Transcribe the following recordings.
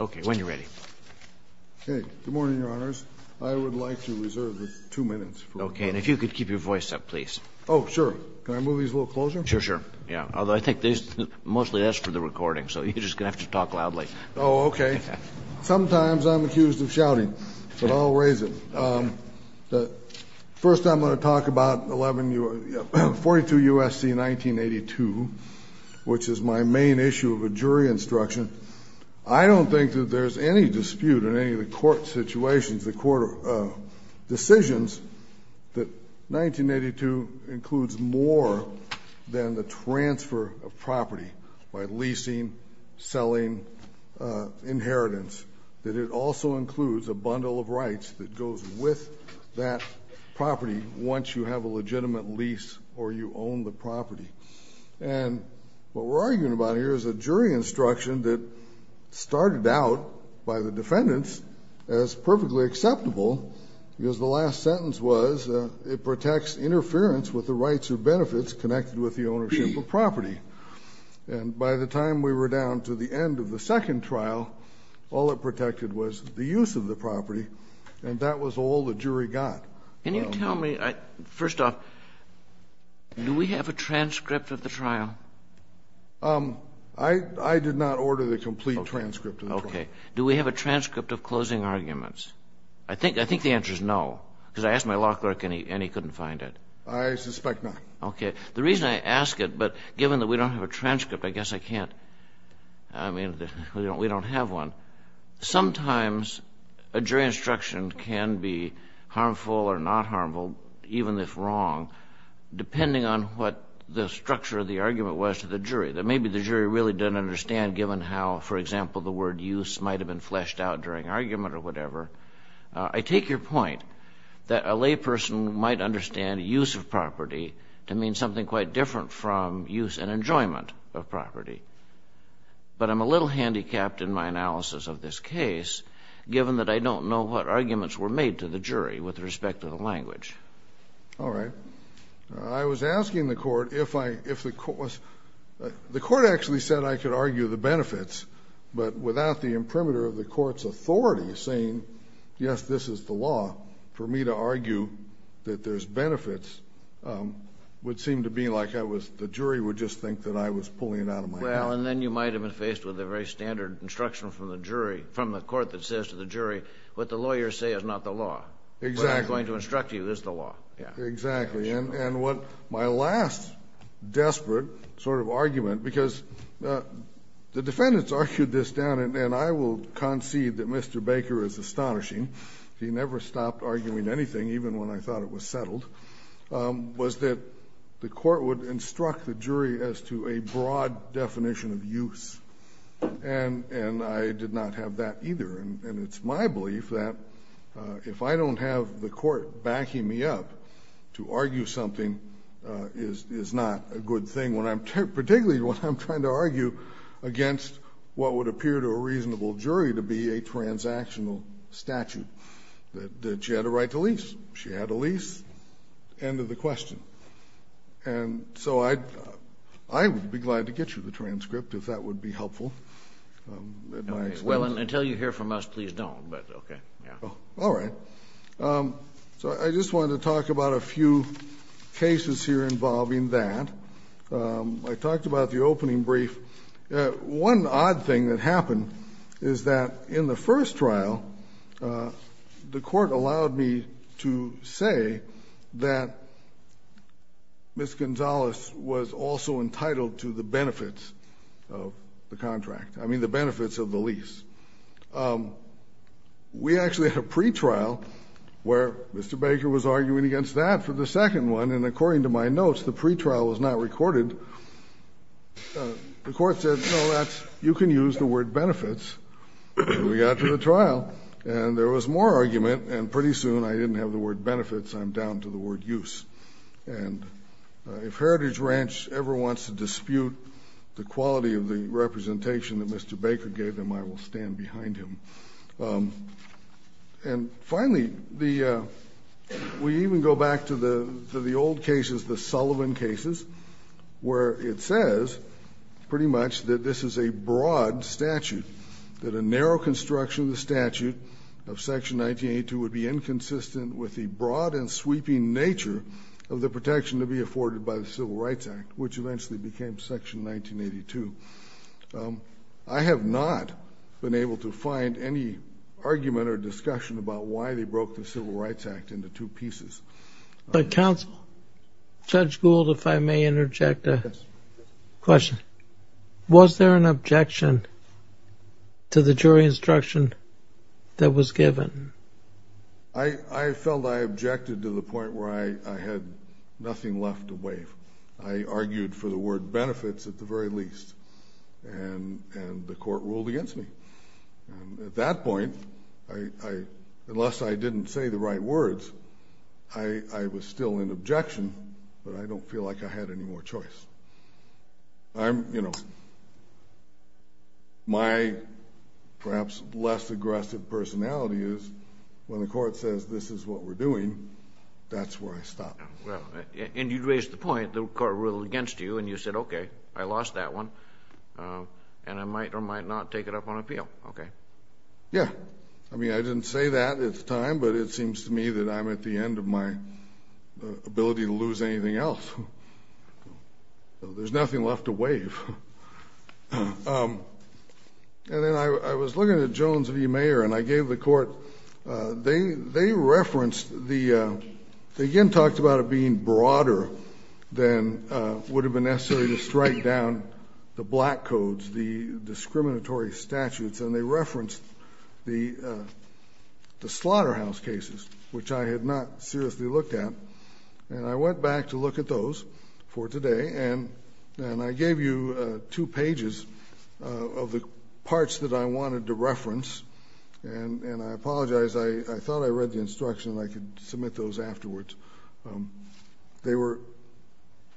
Okay, when you're ready. Okay, good morning, your honors. I would like to reserve the two minutes. Okay, and if you could keep your voice up, please. Oh, sure. Can I move these a little closer? Sure, sure. Yeah, although I think they mostly asked for the recording, so you're just going to have to talk loudly. Oh, okay. Sometimes I'm accused of shouting, but I'll raise it. First, I'm going to talk about 42 U.S.C. 1982, which is my main issue of a jury instruction. I don't think that there's any dispute in any of the court situations, the court decisions, that 1982 includes more than the transfer of property by leasing, selling, inheritance. That it also includes a bundle of rights that goes with that property once you have a legitimate lease or you own the property. And what we're arguing about here is a jury instruction that started out by the defendants as perfectly acceptable. Because the last sentence was it protects interference with the rights or benefits connected with the ownership of property. And by the time we were down to the end of the second trial, all it protected was the use of the property, and that was all the jury got. Can you tell me, first off, do we have a transcript of the trial? I did not order the complete transcript of the trial. Okay. Do we have a transcript of closing arguments? I think the answer is no, because I asked my law clerk and he couldn't find it. I suspect not. Okay. The reason I ask it, but given that we don't have a transcript, I guess I can't, I mean, we don't have one. Sometimes a jury instruction can be harmful or not harmful, even if wrong, depending on what the structure of the argument was to the jury. That maybe the jury really doesn't understand, given how, for example, the word use might have been fleshed out during argument or whatever. I take your point that a layperson might understand use of property to mean something quite different from use and enjoyment of property. But I'm a little handicapped in my analysis of this case, given that I don't know what arguments were made to the jury with respect to the language. All right. I was asking the court if I, if the court was, the court actually said I could argue the benefits, but without the imprimatur of the court's authority saying, yes, this is the law, for me to argue that there's benefits would seem to be like I was, the jury would just think that I was pulling it out of my mouth. Well, and then you might have been faced with a very standard instruction from the jury, from the court that says to the jury, what the lawyers say is not the law. Exactly. What I'm going to instruct you is the law. Exactly. And what my last desperate sort of argument, because the defendants argued this down, and I will concede that Mr. Baker is astonishing. He never stopped arguing anything, even when I thought it was settled, was that the court would instruct the jury as to a broad definition of use. And I did not have that either. And it's my belief that if I don't have the court backing me up to argue something, is not a good thing, particularly when I'm trying to argue against what would appear to a reasonable jury to be a transactional statute, that she had a right to lease. She had a lease. End of the question. And so I would be glad to get you the transcript, if that would be helpful. Well, until you hear from us, please don't. Okay. All right. So I just wanted to talk about a few cases here involving that. I talked about the opening brief. One odd thing that happened is that in the first trial, the court allowed me to say that Ms. Gonzalez was also entitled to the benefits of the contract. I mean the benefits of the lease. We actually had a pretrial where Mr. Baker was arguing against that for the second one, and according to my notes, the pretrial was not recorded. The court said, no, you can use the word benefits. And we got to the trial, and there was more argument, and pretty soon I didn't have the word benefits, I'm down to the word use. And if Heritage Ranch ever wants to dispute the quality of the representation that Mr. Baker gave them, I will stand behind him. And finally, we even go back to the old cases, the Sullivan cases, where it says pretty much that this is a broad statute, that a narrow construction of the statute of Section 1982 would be inconsistent with the broad and sweeping nature of the protection to be afforded by the Civil Rights Act, which eventually became Section 1982. I have not been able to find any argument or discussion about why they broke the Civil Rights Act into two pieces. But counsel, Judge Gould, if I may interject a question. Was there an objection to the jury instruction that was given? I felt I objected to the point where I had nothing left to waive. I argued for the word benefits at the very least, and the court ruled against me. At that point, unless I didn't say the right words, I was still in objection, but I don't feel like I had any more choice. My perhaps less aggressive personality is when the court says this is what we're doing, that's where I stop. And you raised the point, the court ruled against you, and you said, okay, I lost that one, and I might or might not take it up on appeal. Okay. Yeah. I mean, I didn't say that at the time, but it seems to me that I'm at the end of my ability to lose anything else. There's nothing left to waive. And then I was looking at Jones v. Mayer, and I gave the court, they referenced the, they again talked about it being broader than would have been necessary to strike down the black codes, the discriminatory statutes, and they referenced the slaughterhouse cases, which I had not seriously looked at. And I went back to look at those for today, and I gave you two pages of the parts that I wanted to reference, and I apologize, I thought I read the instruction and I could submit those afterwards. They were,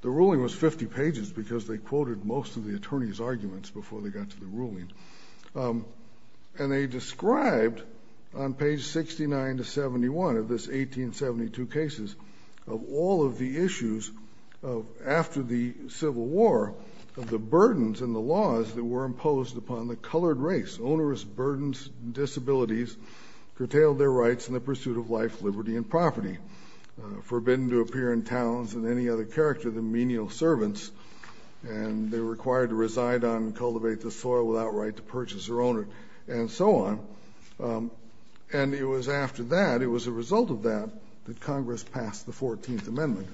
the ruling was 50 pages because they quoted most of the attorney's arguments before they got to the ruling. And they described on page 69 to 71 of this 1872 cases of all of the issues after the Civil War, of the burdens and the laws that were imposed upon the colored race, onerous burdens and disabilities curtailed their rights in the pursuit of life, liberty, and property, forbidden to appear in towns of any other character than menial servants, and they were required to reside on and cultivate the soil without right to purchase or own it, and so on. And it was after that, it was a result of that, that Congress passed the 14th Amendment.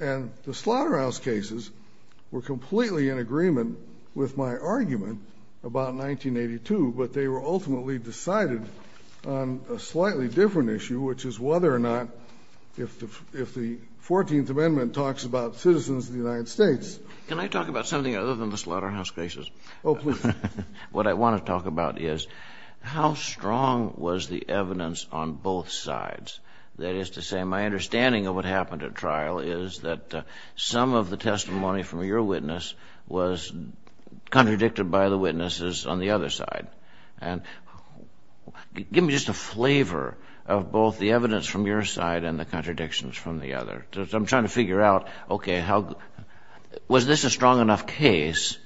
And the slaughterhouse cases were completely in agreement with my argument about 1982, but they were ultimately decided on a slightly different issue, which is whether or not if the 14th Amendment talks about citizens of the United States. Can I talk about something other than the slaughterhouse cases? Oh, please. What I want to talk about is how strong was the evidence on both sides? That is to say, my understanding of what happened at trial is that some of the testimony from your witness was contradicted by the witnesses on the other side. And give me just a flavor of both the evidence from your side and the contradictions from the other. I'm trying to figure out, okay, was this a strong enough case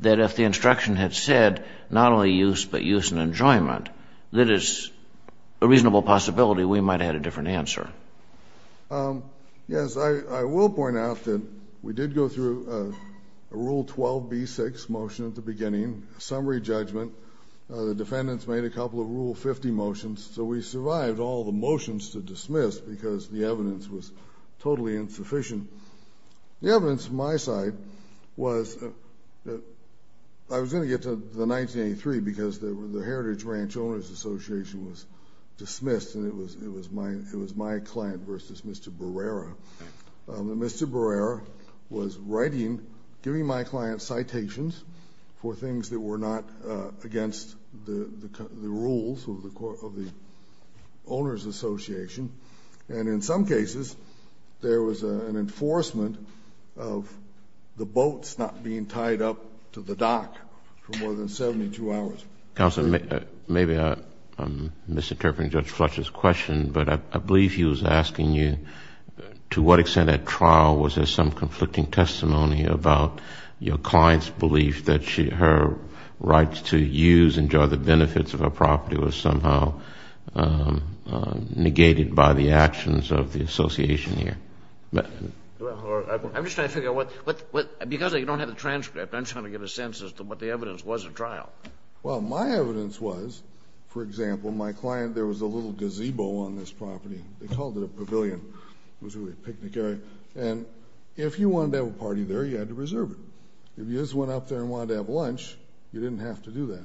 that if the instruction had said not only use, but use and enjoyment, that is a reasonable possibility we might have had a different answer. Yes, I will point out that we did go through a Rule 12b-6 motion at the beginning, a summary judgment. The defendants made a couple of Rule 50 motions, so we survived all the motions to dismiss because the evidence was totally insufficient. The evidence from my side was that I was going to get to the 1983 because the Heritage Ranch Owners Association was dismissed and it was my client versus Mr. Barrera. Mr. Barrera was writing, giving my client citations for things that were not against the rules of the Owners Association. And in some cases, there was an enforcement of the boats not being tied up to the dock for more than 72 hours. Counsel, maybe I'm misinterpreting Judge Fletcher's question, but I believe he was asking you to what extent at trial was there some conflicting testimony about your client's belief that her rights to use and enjoy the benefits of her property was somehow negated by the actions of the association here. I'm just trying to figure out what, because you don't have the transcript, I'm trying to get a sense as to what the evidence was at trial. Well, my evidence was, for example, my client, there was a little gazebo on this property. They called it a pavilion. It was a picnic area. And if you wanted to have a party there, you had to reserve it. If you just went up there and wanted to have lunch, you didn't have to do that.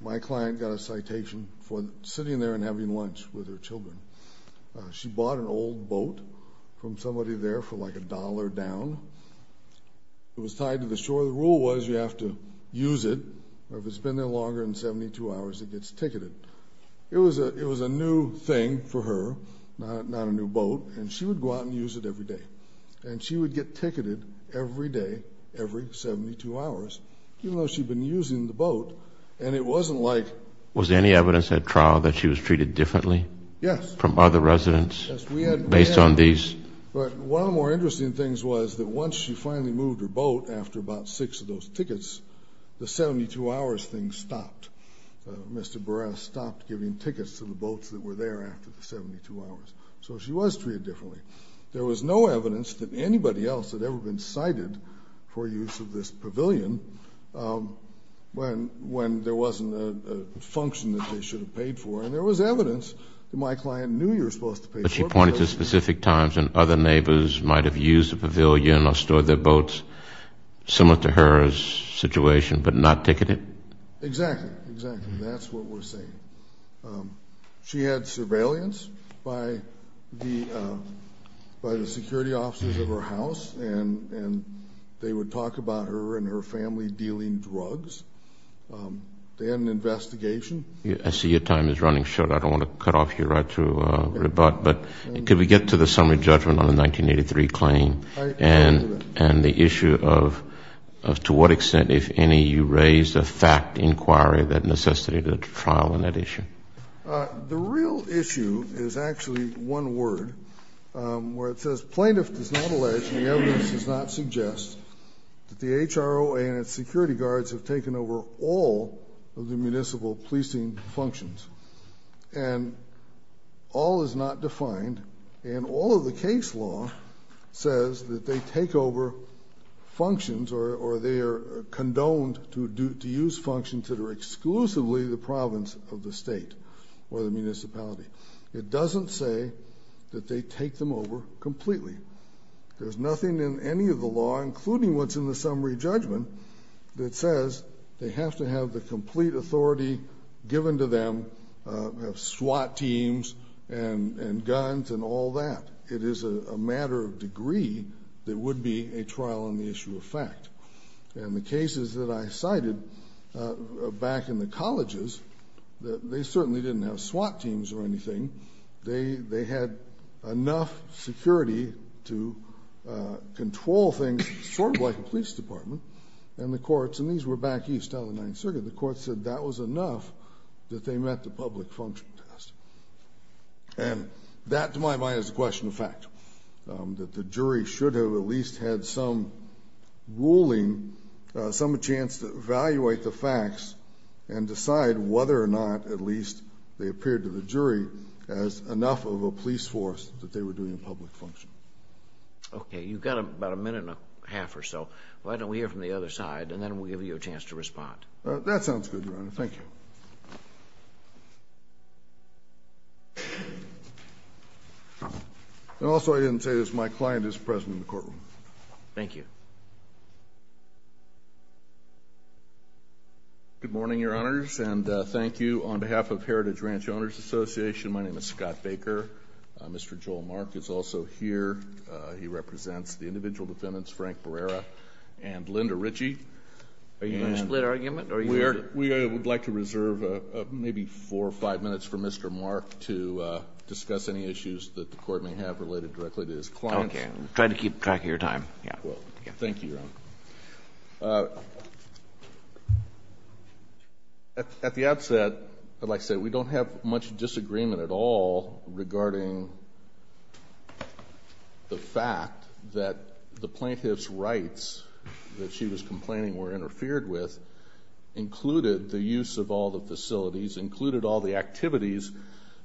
My client got a citation for sitting there and having lunch with her children. She bought an old boat from somebody there for like a dollar down. It was tied to the shore. The rule was you have to use it, or if it's been there longer than 72 hours, it gets ticketed. It was a new thing for her, not a new boat, and she would go out and use it every day. And she would get ticketed every day, every 72 hours, even though she'd been using the boat. And it wasn't like – Was any evidence at trial that she was treated differently? Yes. From other residents? Yes, we had. Based on these? But one of the more interesting things was that once she finally moved her boat, after about six of those tickets, the 72-hours thing stopped. Mr. Barres stopped giving tickets to the boats that were there after the 72 hours. So she was treated differently. There was no evidence that anybody else had ever been cited for use of this pavilion when there wasn't a function that they should have paid for, and there was evidence that my client knew you were supposed to pay for it. But she pointed to specific times when other neighbors might have used the pavilion or stored their boats, similar to her situation, but not ticketed? Exactly, exactly. That's what we're saying. She had surveillance by the security officers of her house, and they would talk about her and her family dealing drugs. They had an investigation. I see your time is running short. I don't want to cut off here right to rebut. But could we get to the summary judgment on the 1983 claim and the issue of to what extent, if any, you raised a fact inquiry that necessitated a trial on that issue? The real issue is actually one word, where it says, Plaintiff does not allege and the evidence does not suggest that the HROA and its security guards have taken over all of the municipal policing functions. And all is not defined, and all of the case law says that they take over functions or they are condoned to use functions that are exclusively the province of the state or the municipality. It doesn't say that they take them over completely. There's nothing in any of the law, including what's in the summary judgment, that says they have to have the complete authority given to them, have SWAT teams and guns and all that. It is a matter of degree that would be a trial on the issue of fact. And the cases that I cited back in the colleges, they certainly didn't have SWAT teams or anything. They had enough security to control things, sort of like a police department, and the courts, and these were back east on the Ninth Circuit, the courts said that was enough that they met the public function test. And that, to my mind, is a question of fact, that the jury should have at least had some ruling, some chance to evaluate the facts and decide whether or not at least they appeared to the jury as enough of a police force that they were doing a public function. Okay. You've got about a minute and a half or so. Why don't we hear from the other side, and then we'll give you a chance to respond. That sounds good, Your Honor. Thank you. And also, I didn't say this, my client is present in the courtroom. Thank you. Good morning, Your Honors, and thank you. On behalf of Heritage Ranch Owners Association, my name is Scott Baker. Mr. Joel Mark is also here. He represents the individual defendants, Frank Barrera and Linda Ritchie. Are you going to split argument, or are you going to? We would like to reserve maybe four or five minutes for Mr. Mark to discuss any issues that the Court may have related directly to his clients. Okay. Try to keep track of your time. Thank you, Your Honor. At the outset, I'd like to say we don't have much disagreement at all regarding the fact that the plaintiff's rights that she was complaining were interfered with included the use of all the facilities, included all the activities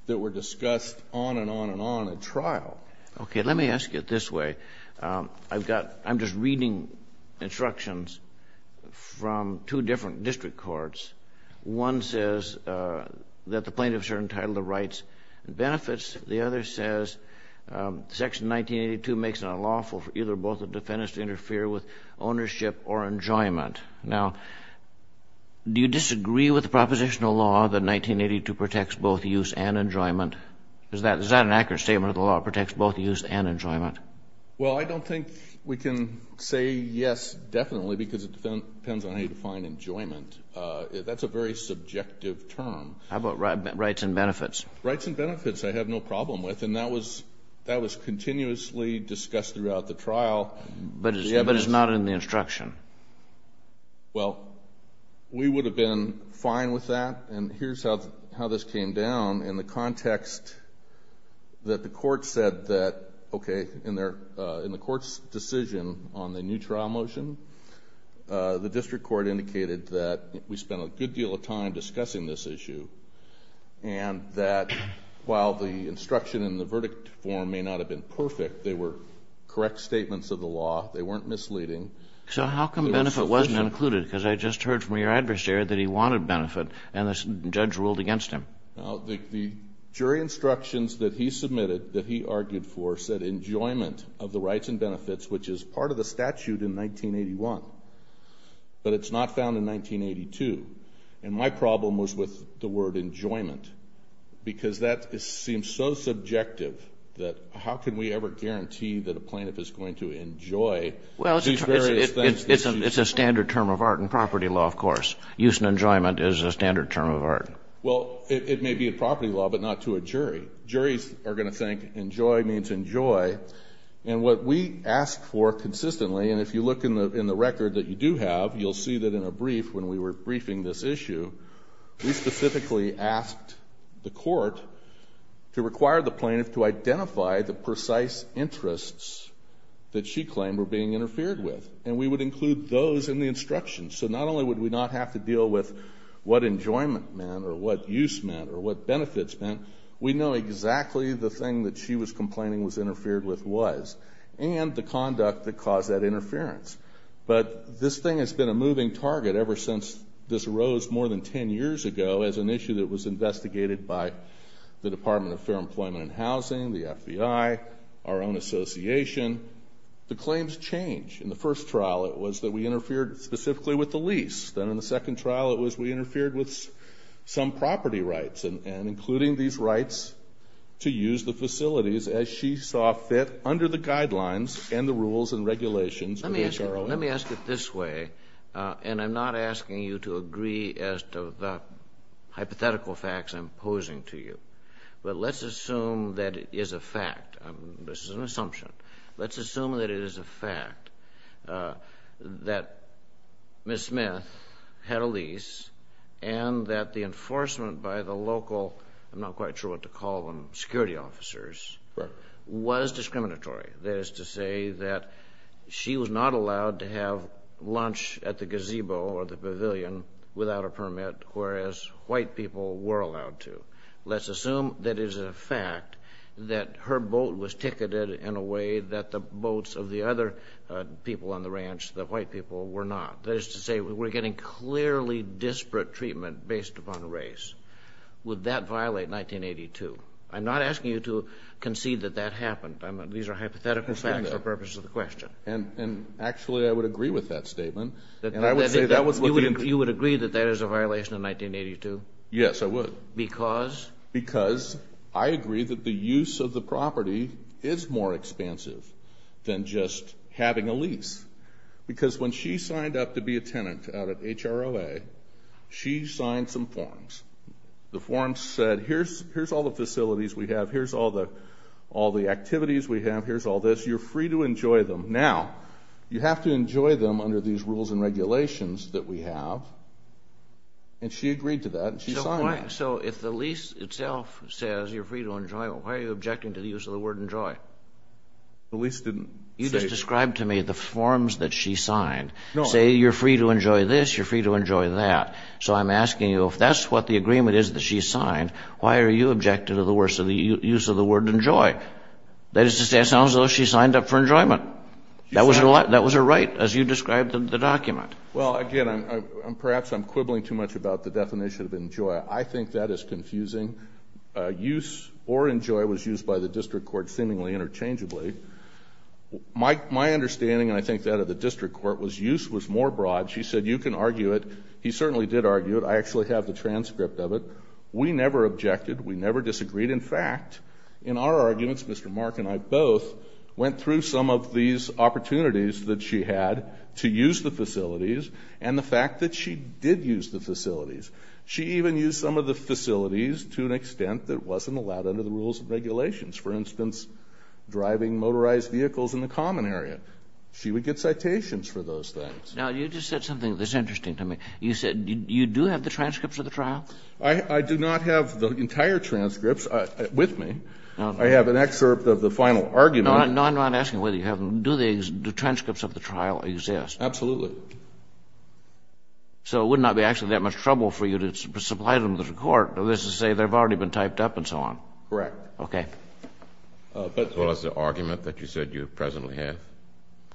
that were discussed on and on and on at trial. Okay. Let me ask you it this way. I've got, I'm just reading instructions from two different district courts. One says that the plaintiffs are entitled to rights and benefits. The other says Section 1982 makes it unlawful for either or both the defendants to interfere with ownership or enjoyment. Now, do you disagree with the propositional law that 1982 protects both use and enjoyment? Is that an accurate statement that the law protects both use and enjoyment? Well, I don't think we can say yes definitely because it depends on how you define enjoyment. That's a very subjective term. How about rights and benefits? Rights and benefits I have no problem with. And that was continuously discussed throughout the trial. But it's not in the instruction. Well, we would have been fine with that. And here's how this came down in the context that the court said that, okay, in the court's decision on the new trial motion, the district court indicated that we spent a good deal of time discussing this issue and that while the instruction in the verdict form may not have been perfect, they were correct statements of the law. They weren't misleading. So how come benefit wasn't included because I just heard from your adversary that he wanted benefit and the judge ruled against him? The jury instructions that he submitted that he argued for said enjoyment of the rights and benefits, which is part of the statute in 1981, but it's not found in 1982. And my problem was with the word enjoyment because that seems so subjective that how can we ever guarantee that a plaintiff is going to enjoy these various things? Well, it's a standard term of art in property law, of course. Use and enjoyment is a standard term of art. Well, it may be a property law, but not to a jury. Juries are going to think enjoy means enjoy. And what we asked for consistently, and if you look in the record that you do have, you'll see that in a brief when we were briefing this issue, we specifically asked the court to require the plaintiff to identify the precise interests that she claimed were being interfered with. And we would include those in the instructions. So not only would we not have to deal with what enjoyment meant or what use meant or what benefits meant, we know exactly the thing that she was complaining was interfered with was and the conduct that caused that interference. But this thing has been a moving target ever since this arose more than ten years ago as an issue that was investigated by the Department of Fair Employment and Housing, the FBI, our own association. The claims change. In the first trial it was that we interfered specifically with the lease. Then in the second trial it was we interfered with some property rights, and including these rights to use the facilities as she saw fit under the guidelines and the rules and regulations of the HROM. Let me ask it this way, and I'm not asking you to agree as to the hypothetical facts I'm posing to you. But let's assume that it is a fact. This is an assumption. Let's assume that it is a fact that Ms. Smith had a lease and that the enforcement by the local, I'm not quite sure what to call them, security officers, was discriminatory. That is to say that she was not allowed to have lunch at the gazebo or the pavilion without a permit, whereas white people were allowed to. Let's assume that it is a fact that her boat was ticketed in a way that the boats of the other people on the ranch, the white people, were not. That is to say we're getting clearly disparate treatment based upon race. Would that violate 1982? I'm not asking you to concede that that happened. These are hypothetical facts for the purpose of the question. And actually I would agree with that statement. You would agree that that is a violation of 1982? Yes, I would. Because? Because I agree that the use of the property is more expensive than just having a lease. Because when she signed up to be a tenant out at HROA, she signed some forms. The forms said here's all the facilities we have. Here's all the activities we have. Here's all this. You're free to enjoy them. Now, you have to enjoy them under these rules and regulations that we have. And she agreed to that and she signed. So if the lease itself says you're free to enjoy them, why are you objecting to the use of the word enjoy? The lease didn't say. You just described to me the forms that she signed. Say you're free to enjoy this, you're free to enjoy that. So I'm asking you if that's what the agreement is that she signed, why are you objecting to the use of the word enjoy? That is to say it sounds as though she signed up for enjoyment. That was her right as you described in the document. Well, again, perhaps I'm quibbling too much about the definition of enjoy. I think that is confusing. Use or enjoy was used by the district court seemingly interchangeably. My understanding, and I think that of the district court, was use was more broad. She said you can argue it. He certainly did argue it. I actually have the transcript of it. We never objected. We never disagreed. In fact, in our arguments, Mr. Mark and I both went through some of these opportunities that she had to use the facilities and the fact that she did use the facilities. She even used some of the facilities to an extent that wasn't allowed under the rules and regulations. For instance, driving motorized vehicles in the common area. She would get citations for those things. Now, you just said something that's interesting to me. You said you do have the transcripts of the trial? I do not have the entire transcripts with me. I have an excerpt of the final argument. No, I'm not asking whether you have them. Do the transcripts of the trial exist? Absolutely. So it would not be actually that much trouble for you to supply them to the court, let's just say they've already been typed up and so on? Correct. Okay. As well as the argument that you said you presently have,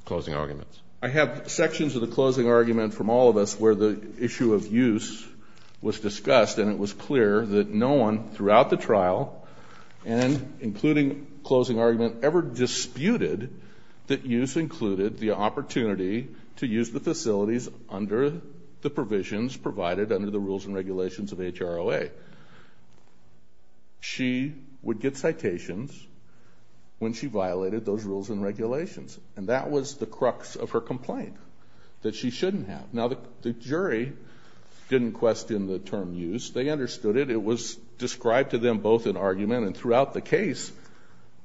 closing arguments. I have sections of the closing argument from all of us where the issue of use was discussed and it was clear that no one throughout the trial, including closing argument, ever disputed that use included the opportunity to use the facilities under the provisions provided under the rules and regulations of HROA. She would get citations when she violated those rules and regulations, and that was the crux of her complaint, that she shouldn't have. Now, the jury didn't question the term use. They understood it. It was described to them both in argument. And throughout the case,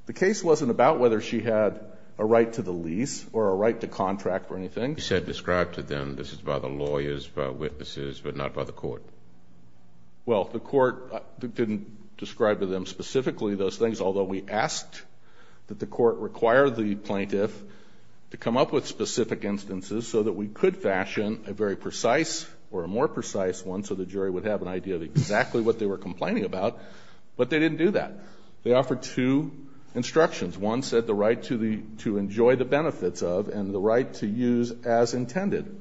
the case wasn't about whether she had a right to the lease or a right to contract or anything. You said described to them this is by the lawyers, by witnesses, but not by the court. Well, the court didn't describe to them specifically those things, although we asked that the court require the plaintiff to come up with specific instances so that we could fashion a very precise or a more precise one, so the jury would have an idea of exactly what they were complaining about. But they didn't do that. They offered two instructions. One said the right to enjoy the benefits of and the right to use as intended.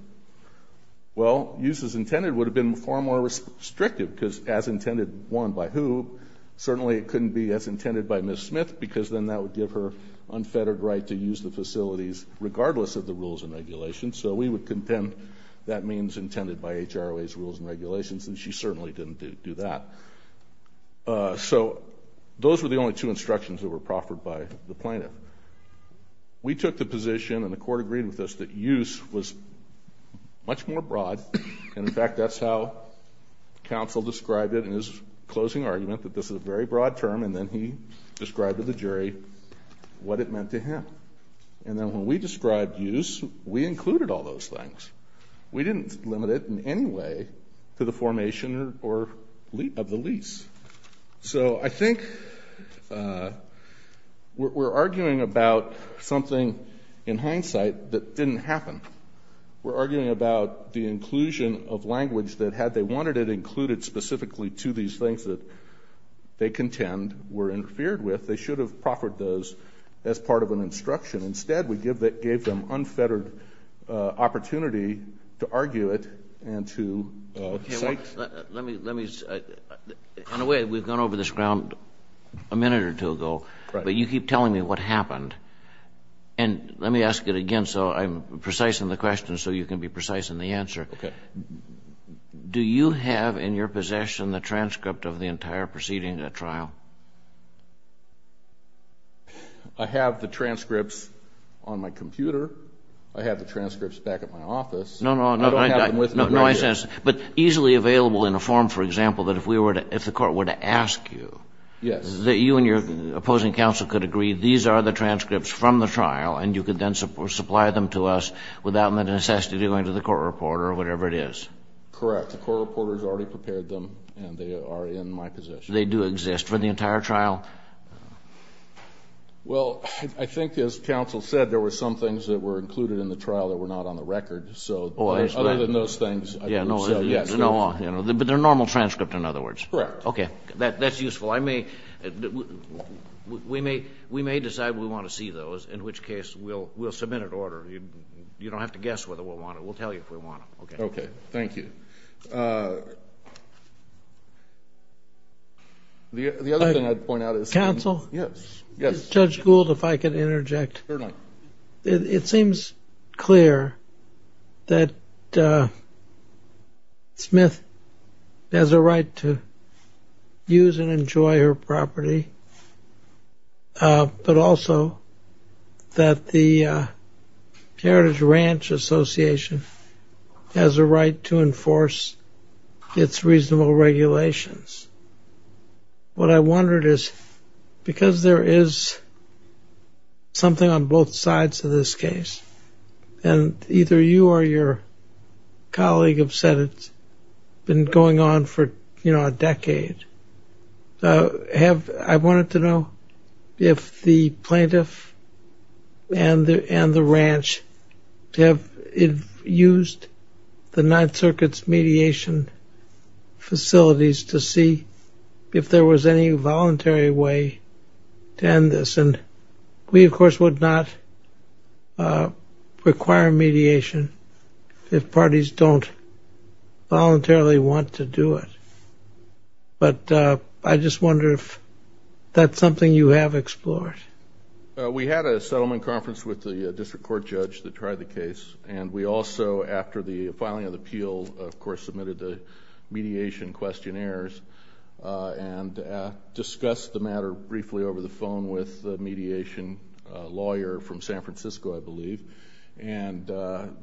Well, use as intended would have been far more restrictive, because as intended, one, by who? Certainly it couldn't be as intended by Ms. Smith, because then that would give her So we would contend that means intended by HROA's rules and regulations, and she certainly didn't do that. So those were the only two instructions that were proffered by the plaintiff. We took the position, and the court agreed with us, that use was much more broad. And, in fact, that's how counsel described it in his closing argument, that this is a very broad term. And then he described to the jury what it meant to him. And then when we described use, we included all those things. We didn't limit it in any way to the formation of the lease. So I think we're arguing about something, in hindsight, that didn't happen. We're arguing about the inclusion of language that, had they wanted it included specifically to these things that they contend were interfered with, they should have proffered those as part of an instruction. Instead, we gave them unfettered opportunity to argue it and to cite. Okay. Well, let me say, in a way, we've gone over this ground a minute or two ago. Right. But you keep telling me what happened. And let me ask it again, so I'm precise in the question so you can be precise in the answer. Okay. Do you have in your possession the transcript of the entire proceeding at trial? I have the transcripts on my computer. I have the transcripts back at my office. No, no, no. I don't have them with me. No, I sense. But easily available in a form, for example, that if we were to – if the Court were to ask you. Yes. That you and your opposing counsel could agree these are the transcripts from the trial, and you could then supply them to us without the necessity of going to the court reporter or whatever it is. Correct. The court reporter has already prepared them, and they are in my possession. They do exist for the entire trial? Well, I think, as counsel said, there were some things that were included in the trial that were not on the record. So other than those things. Yes. But they're normal transcripts, in other words. Correct. Okay. That's useful. We may decide we want to see those, in which case we'll submit an order. You don't have to guess whether we'll want them. We'll tell you if we want them. Okay. Okay. Thank you. The other thing I'd point out is. Counsel? Yes. Yes. Judge Gould, if I could interject. Sure thing. It seems clear that Smith has a right to use and enjoy her property, but also that the Heritage Ranch Association has a right to enforce its reasonable regulations. What I wondered is, because there is something on both sides of this case, and either you or your colleague have said it's been going on for, you know, a decade, I wanted to know if the plaintiff and the ranch have used the Ninth Circuit's mediation facilities to see if there was any voluntary way to end this. And we, of course, would not require mediation if parties don't voluntarily want to do it. But I just wonder if that's something you have explored. We had a settlement conference with the district court judge that tried the case. And we also, after the filing of the appeal, of course, submitted the mediation questionnaires and discussed the matter briefly over the phone with the mediation lawyer from San Francisco, I believe. And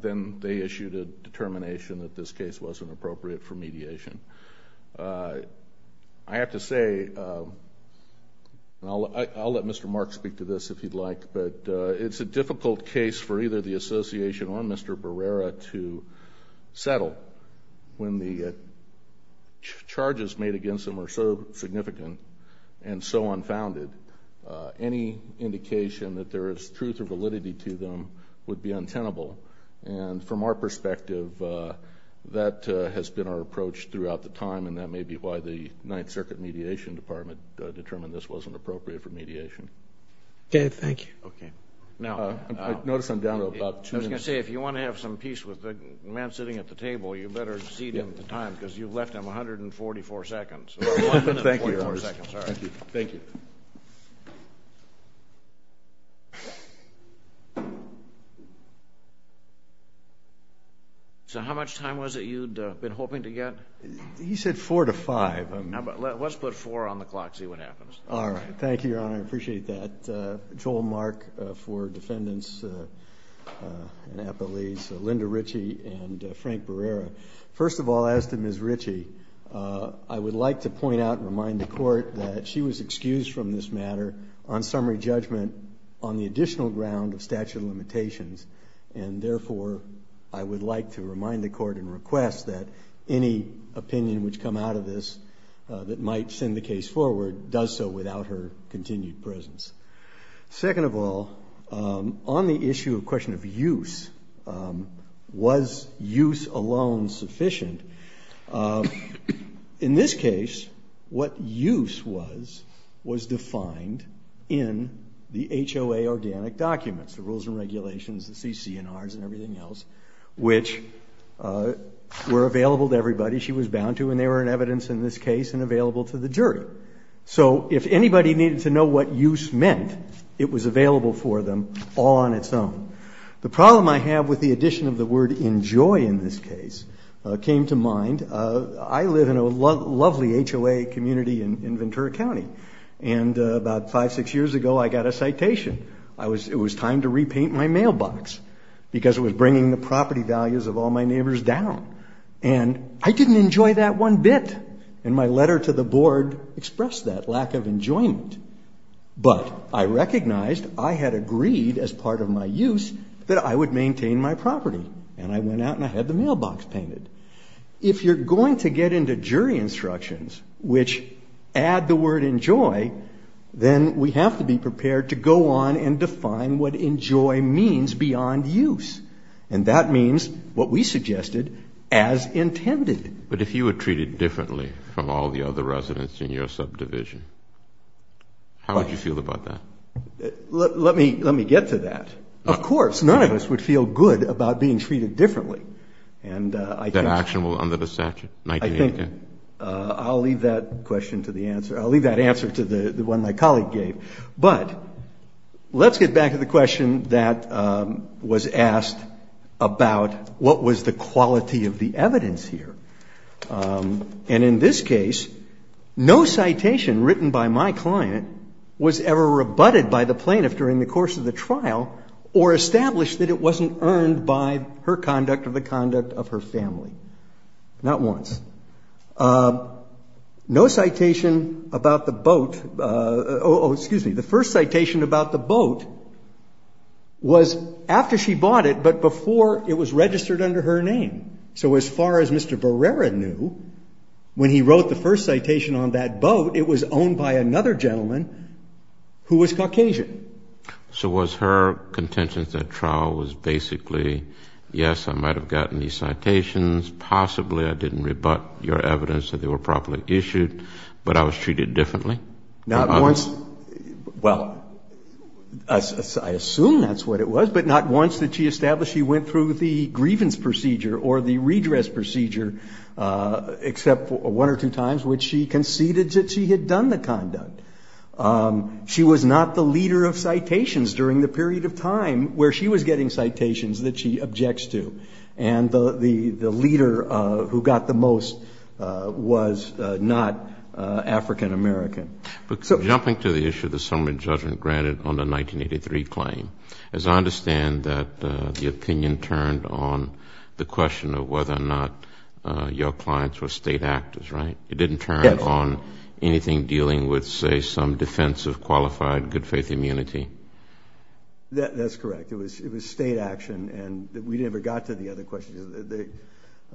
then they issued a determination that this case wasn't appropriate for mediation. I have to say, and I'll let Mr. Mark speak to this if he'd like, but it's a difficult case for either the association or Mr. Barrera to settle when the charges made against them are so significant and so unfounded. Any indication that there is truth or validity to them would be untenable. And from our perspective, that has been our approach throughout the time, and that may be why the Ninth Circuit Mediation Department determined this wasn't appropriate for mediation. Dave, thank you. Okay. Now, I was going to say, if you want to have some peace with the man sitting at the table, you better cede him the time because you've left him 144 seconds. Thank you, Your Honor. Thank you. Thank you. So how much time was it you'd been hoping to get? He said four to five. Let's put four on the clock and see what happens. All right. Thank you, Your Honor. I appreciate that. Joel Mark for defendants and appellees, Linda Ritchie and Frank Barrera. First of all, as to Ms. Ritchie, I would like to point out and remind the Court that she was excused from this matter on summary judgment on the additional ground of statute of limitations, and therefore I would like to remind the Court and request that any opinion which come out of this that might send the case forward does so without her continued presence. Second of all, on the issue of question of use, was use alone sufficient? In this case, what use was was defined in the HOA organic documents, the rules and regulations, the CCNRs and everything else, which were available to everybody she was bound to, and they were in evidence in this case and available to the jury. So if anybody needed to know what use meant, it was available for them all on its own. The problem I have with the addition of the word enjoy in this case came to mind. I live in a lovely HOA community in Ventura County, and about five, six years ago I got a citation. It was time to repaint my mailbox because it was bringing the property values of all my neighbors down, and I didn't enjoy that one bit, and my letter to the board expressed that lack of enjoyment. But I recognized I had agreed as part of my use that I would maintain my property, and I went out and I had the mailbox painted. If you're going to get into jury instructions which add the word enjoy, then we have to be prepared to go on and define what enjoy means beyond use, and that means what we suggested as intended. But if you were treated differently from all the other residents in your subdivision, how would you feel about that? Let me get to that. Of course, none of us would feel good about being treated differently. And I think... That action will under the statute. I think I'll leave that question to the answer. I'll leave that answer to the one my colleague gave. But let's get back to the question that was asked about what was the quality of the evidence here. And in this case, no citation written by my client was ever rebutted by the plaintiff during the course of the trial or established that it wasn't earned by her conduct or the conduct of her family. Not once. No citation about the boat. Oh, excuse me. The first citation about the boat was after she bought it, but before it was registered under her name. So as far as Mr. Barrera knew, when he wrote the first citation on that boat, it was owned by another gentleman who was Caucasian. So was her contention at that trial was basically, yes, I might have gotten these citations, possibly I didn't rebut your evidence that they were properly issued, but I was treated differently? Not once. Well, I assume that's what it was, but not once did she establish she went through the grievance procedure or the redress procedure, except one or two times when she conceded that she had done the conduct. She was not the leader of citations during the period of time where she was getting citations that she objects to. And the leader who got the most was not African-American. Jumping to the issue of the summary judgment granted on the 1983 claim, as I understand that the opinion turned on the question of whether or not your clients were state actors, right? Yes. It didn't turn on anything dealing with, say, some defense of qualified good faith immunity? That's correct. It was state action, and we never got to the other questions.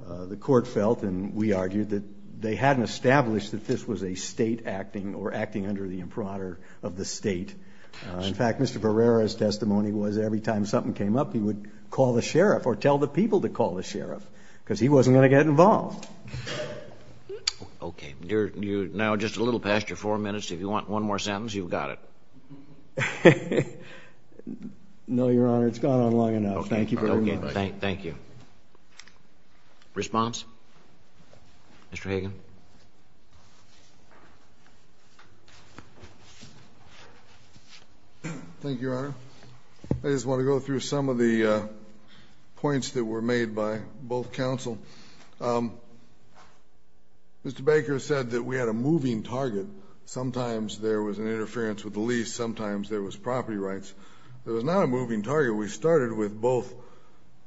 The court felt, and we argued, that they hadn't established that this was a state acting or acting under the impronter of the state. In fact, Mr. Pereira's testimony was every time something came up, he would call the sheriff or tell the people to call the sheriff because he wasn't going to get involved. Okay. Now just a little past your four minutes, if you want one more sentence, you've got it. No, Your Honor, it's gone on long enough. Thank you very much. Okay. Thank you. Response? Mr. Hagan. Thank you, Your Honor. I just want to go through some of the points that were made by both counsel. Mr. Baker said that we had a moving target. Sometimes there was an interference with the lease. Sometimes there was property rights. There was not a moving target. We started with both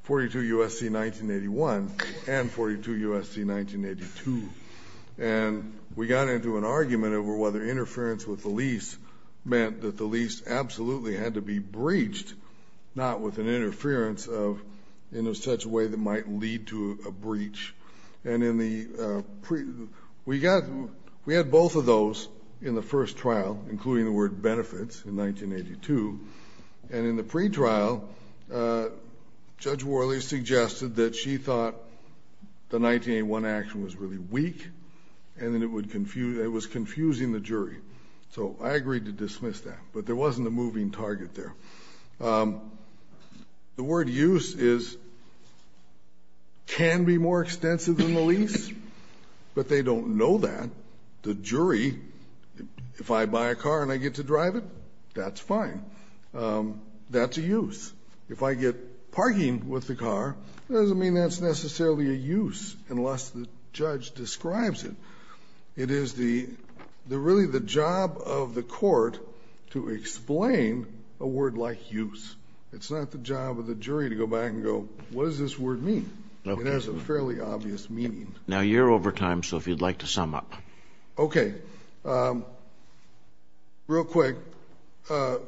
42 U.S.C. 1981 and 42 U.S.C. 1982, and we got into an argument over whether interference with the lease meant that the lease absolutely had to be breached, not with an interference in such a way that might lead to a breach. And we had both of those in the first trial, including the word benefits in 1982. And in the pretrial, Judge Worley suggested that she thought the 1981 action was really weak So I agreed to dismiss that, but there wasn't a moving target there. The word use can be more extensive than the lease, but they don't know that. The jury, if I buy a car and I get to drive it, that's fine. That's a use. If I get parking with the car, it doesn't mean that's necessarily a use unless the judge describes it. It is really the job of the court to explain a word like use. It's not the job of the jury to go back and go, what does this word mean? It has a fairly obvious meaning. Now you're over time, so if you'd like to sum up. Okay. Real quick, the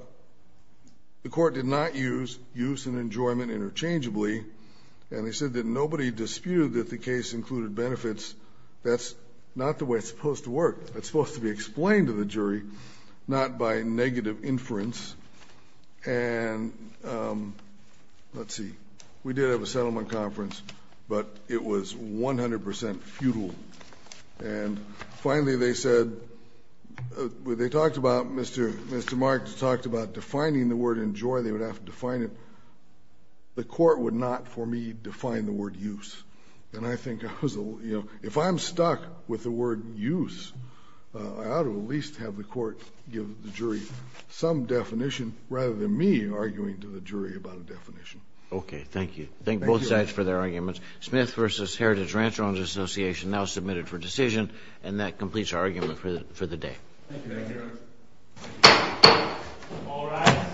court did not use use and enjoyment interchangeably, and they said that nobody disputed that the case included benefits. That's not the way it's supposed to work. It's supposed to be explained to the jury, not by negative inference. And let's see. We did have a settlement conference, but it was 100% futile. And finally they said, they talked about, Mr. Marks talked about defining the word enjoy. They would have to define it. The court would not, for me, define the word use. And I think if I'm stuck with the word use, I ought to at least have the court give the jury some definition rather than me arguing to the jury about a definition. Okay, thank you. Thank both sides for their arguments. Smith v. Heritage Rancher Owners Association now submitted for decision. And that completes our argument for the day. Thank you. Thank you. All rise.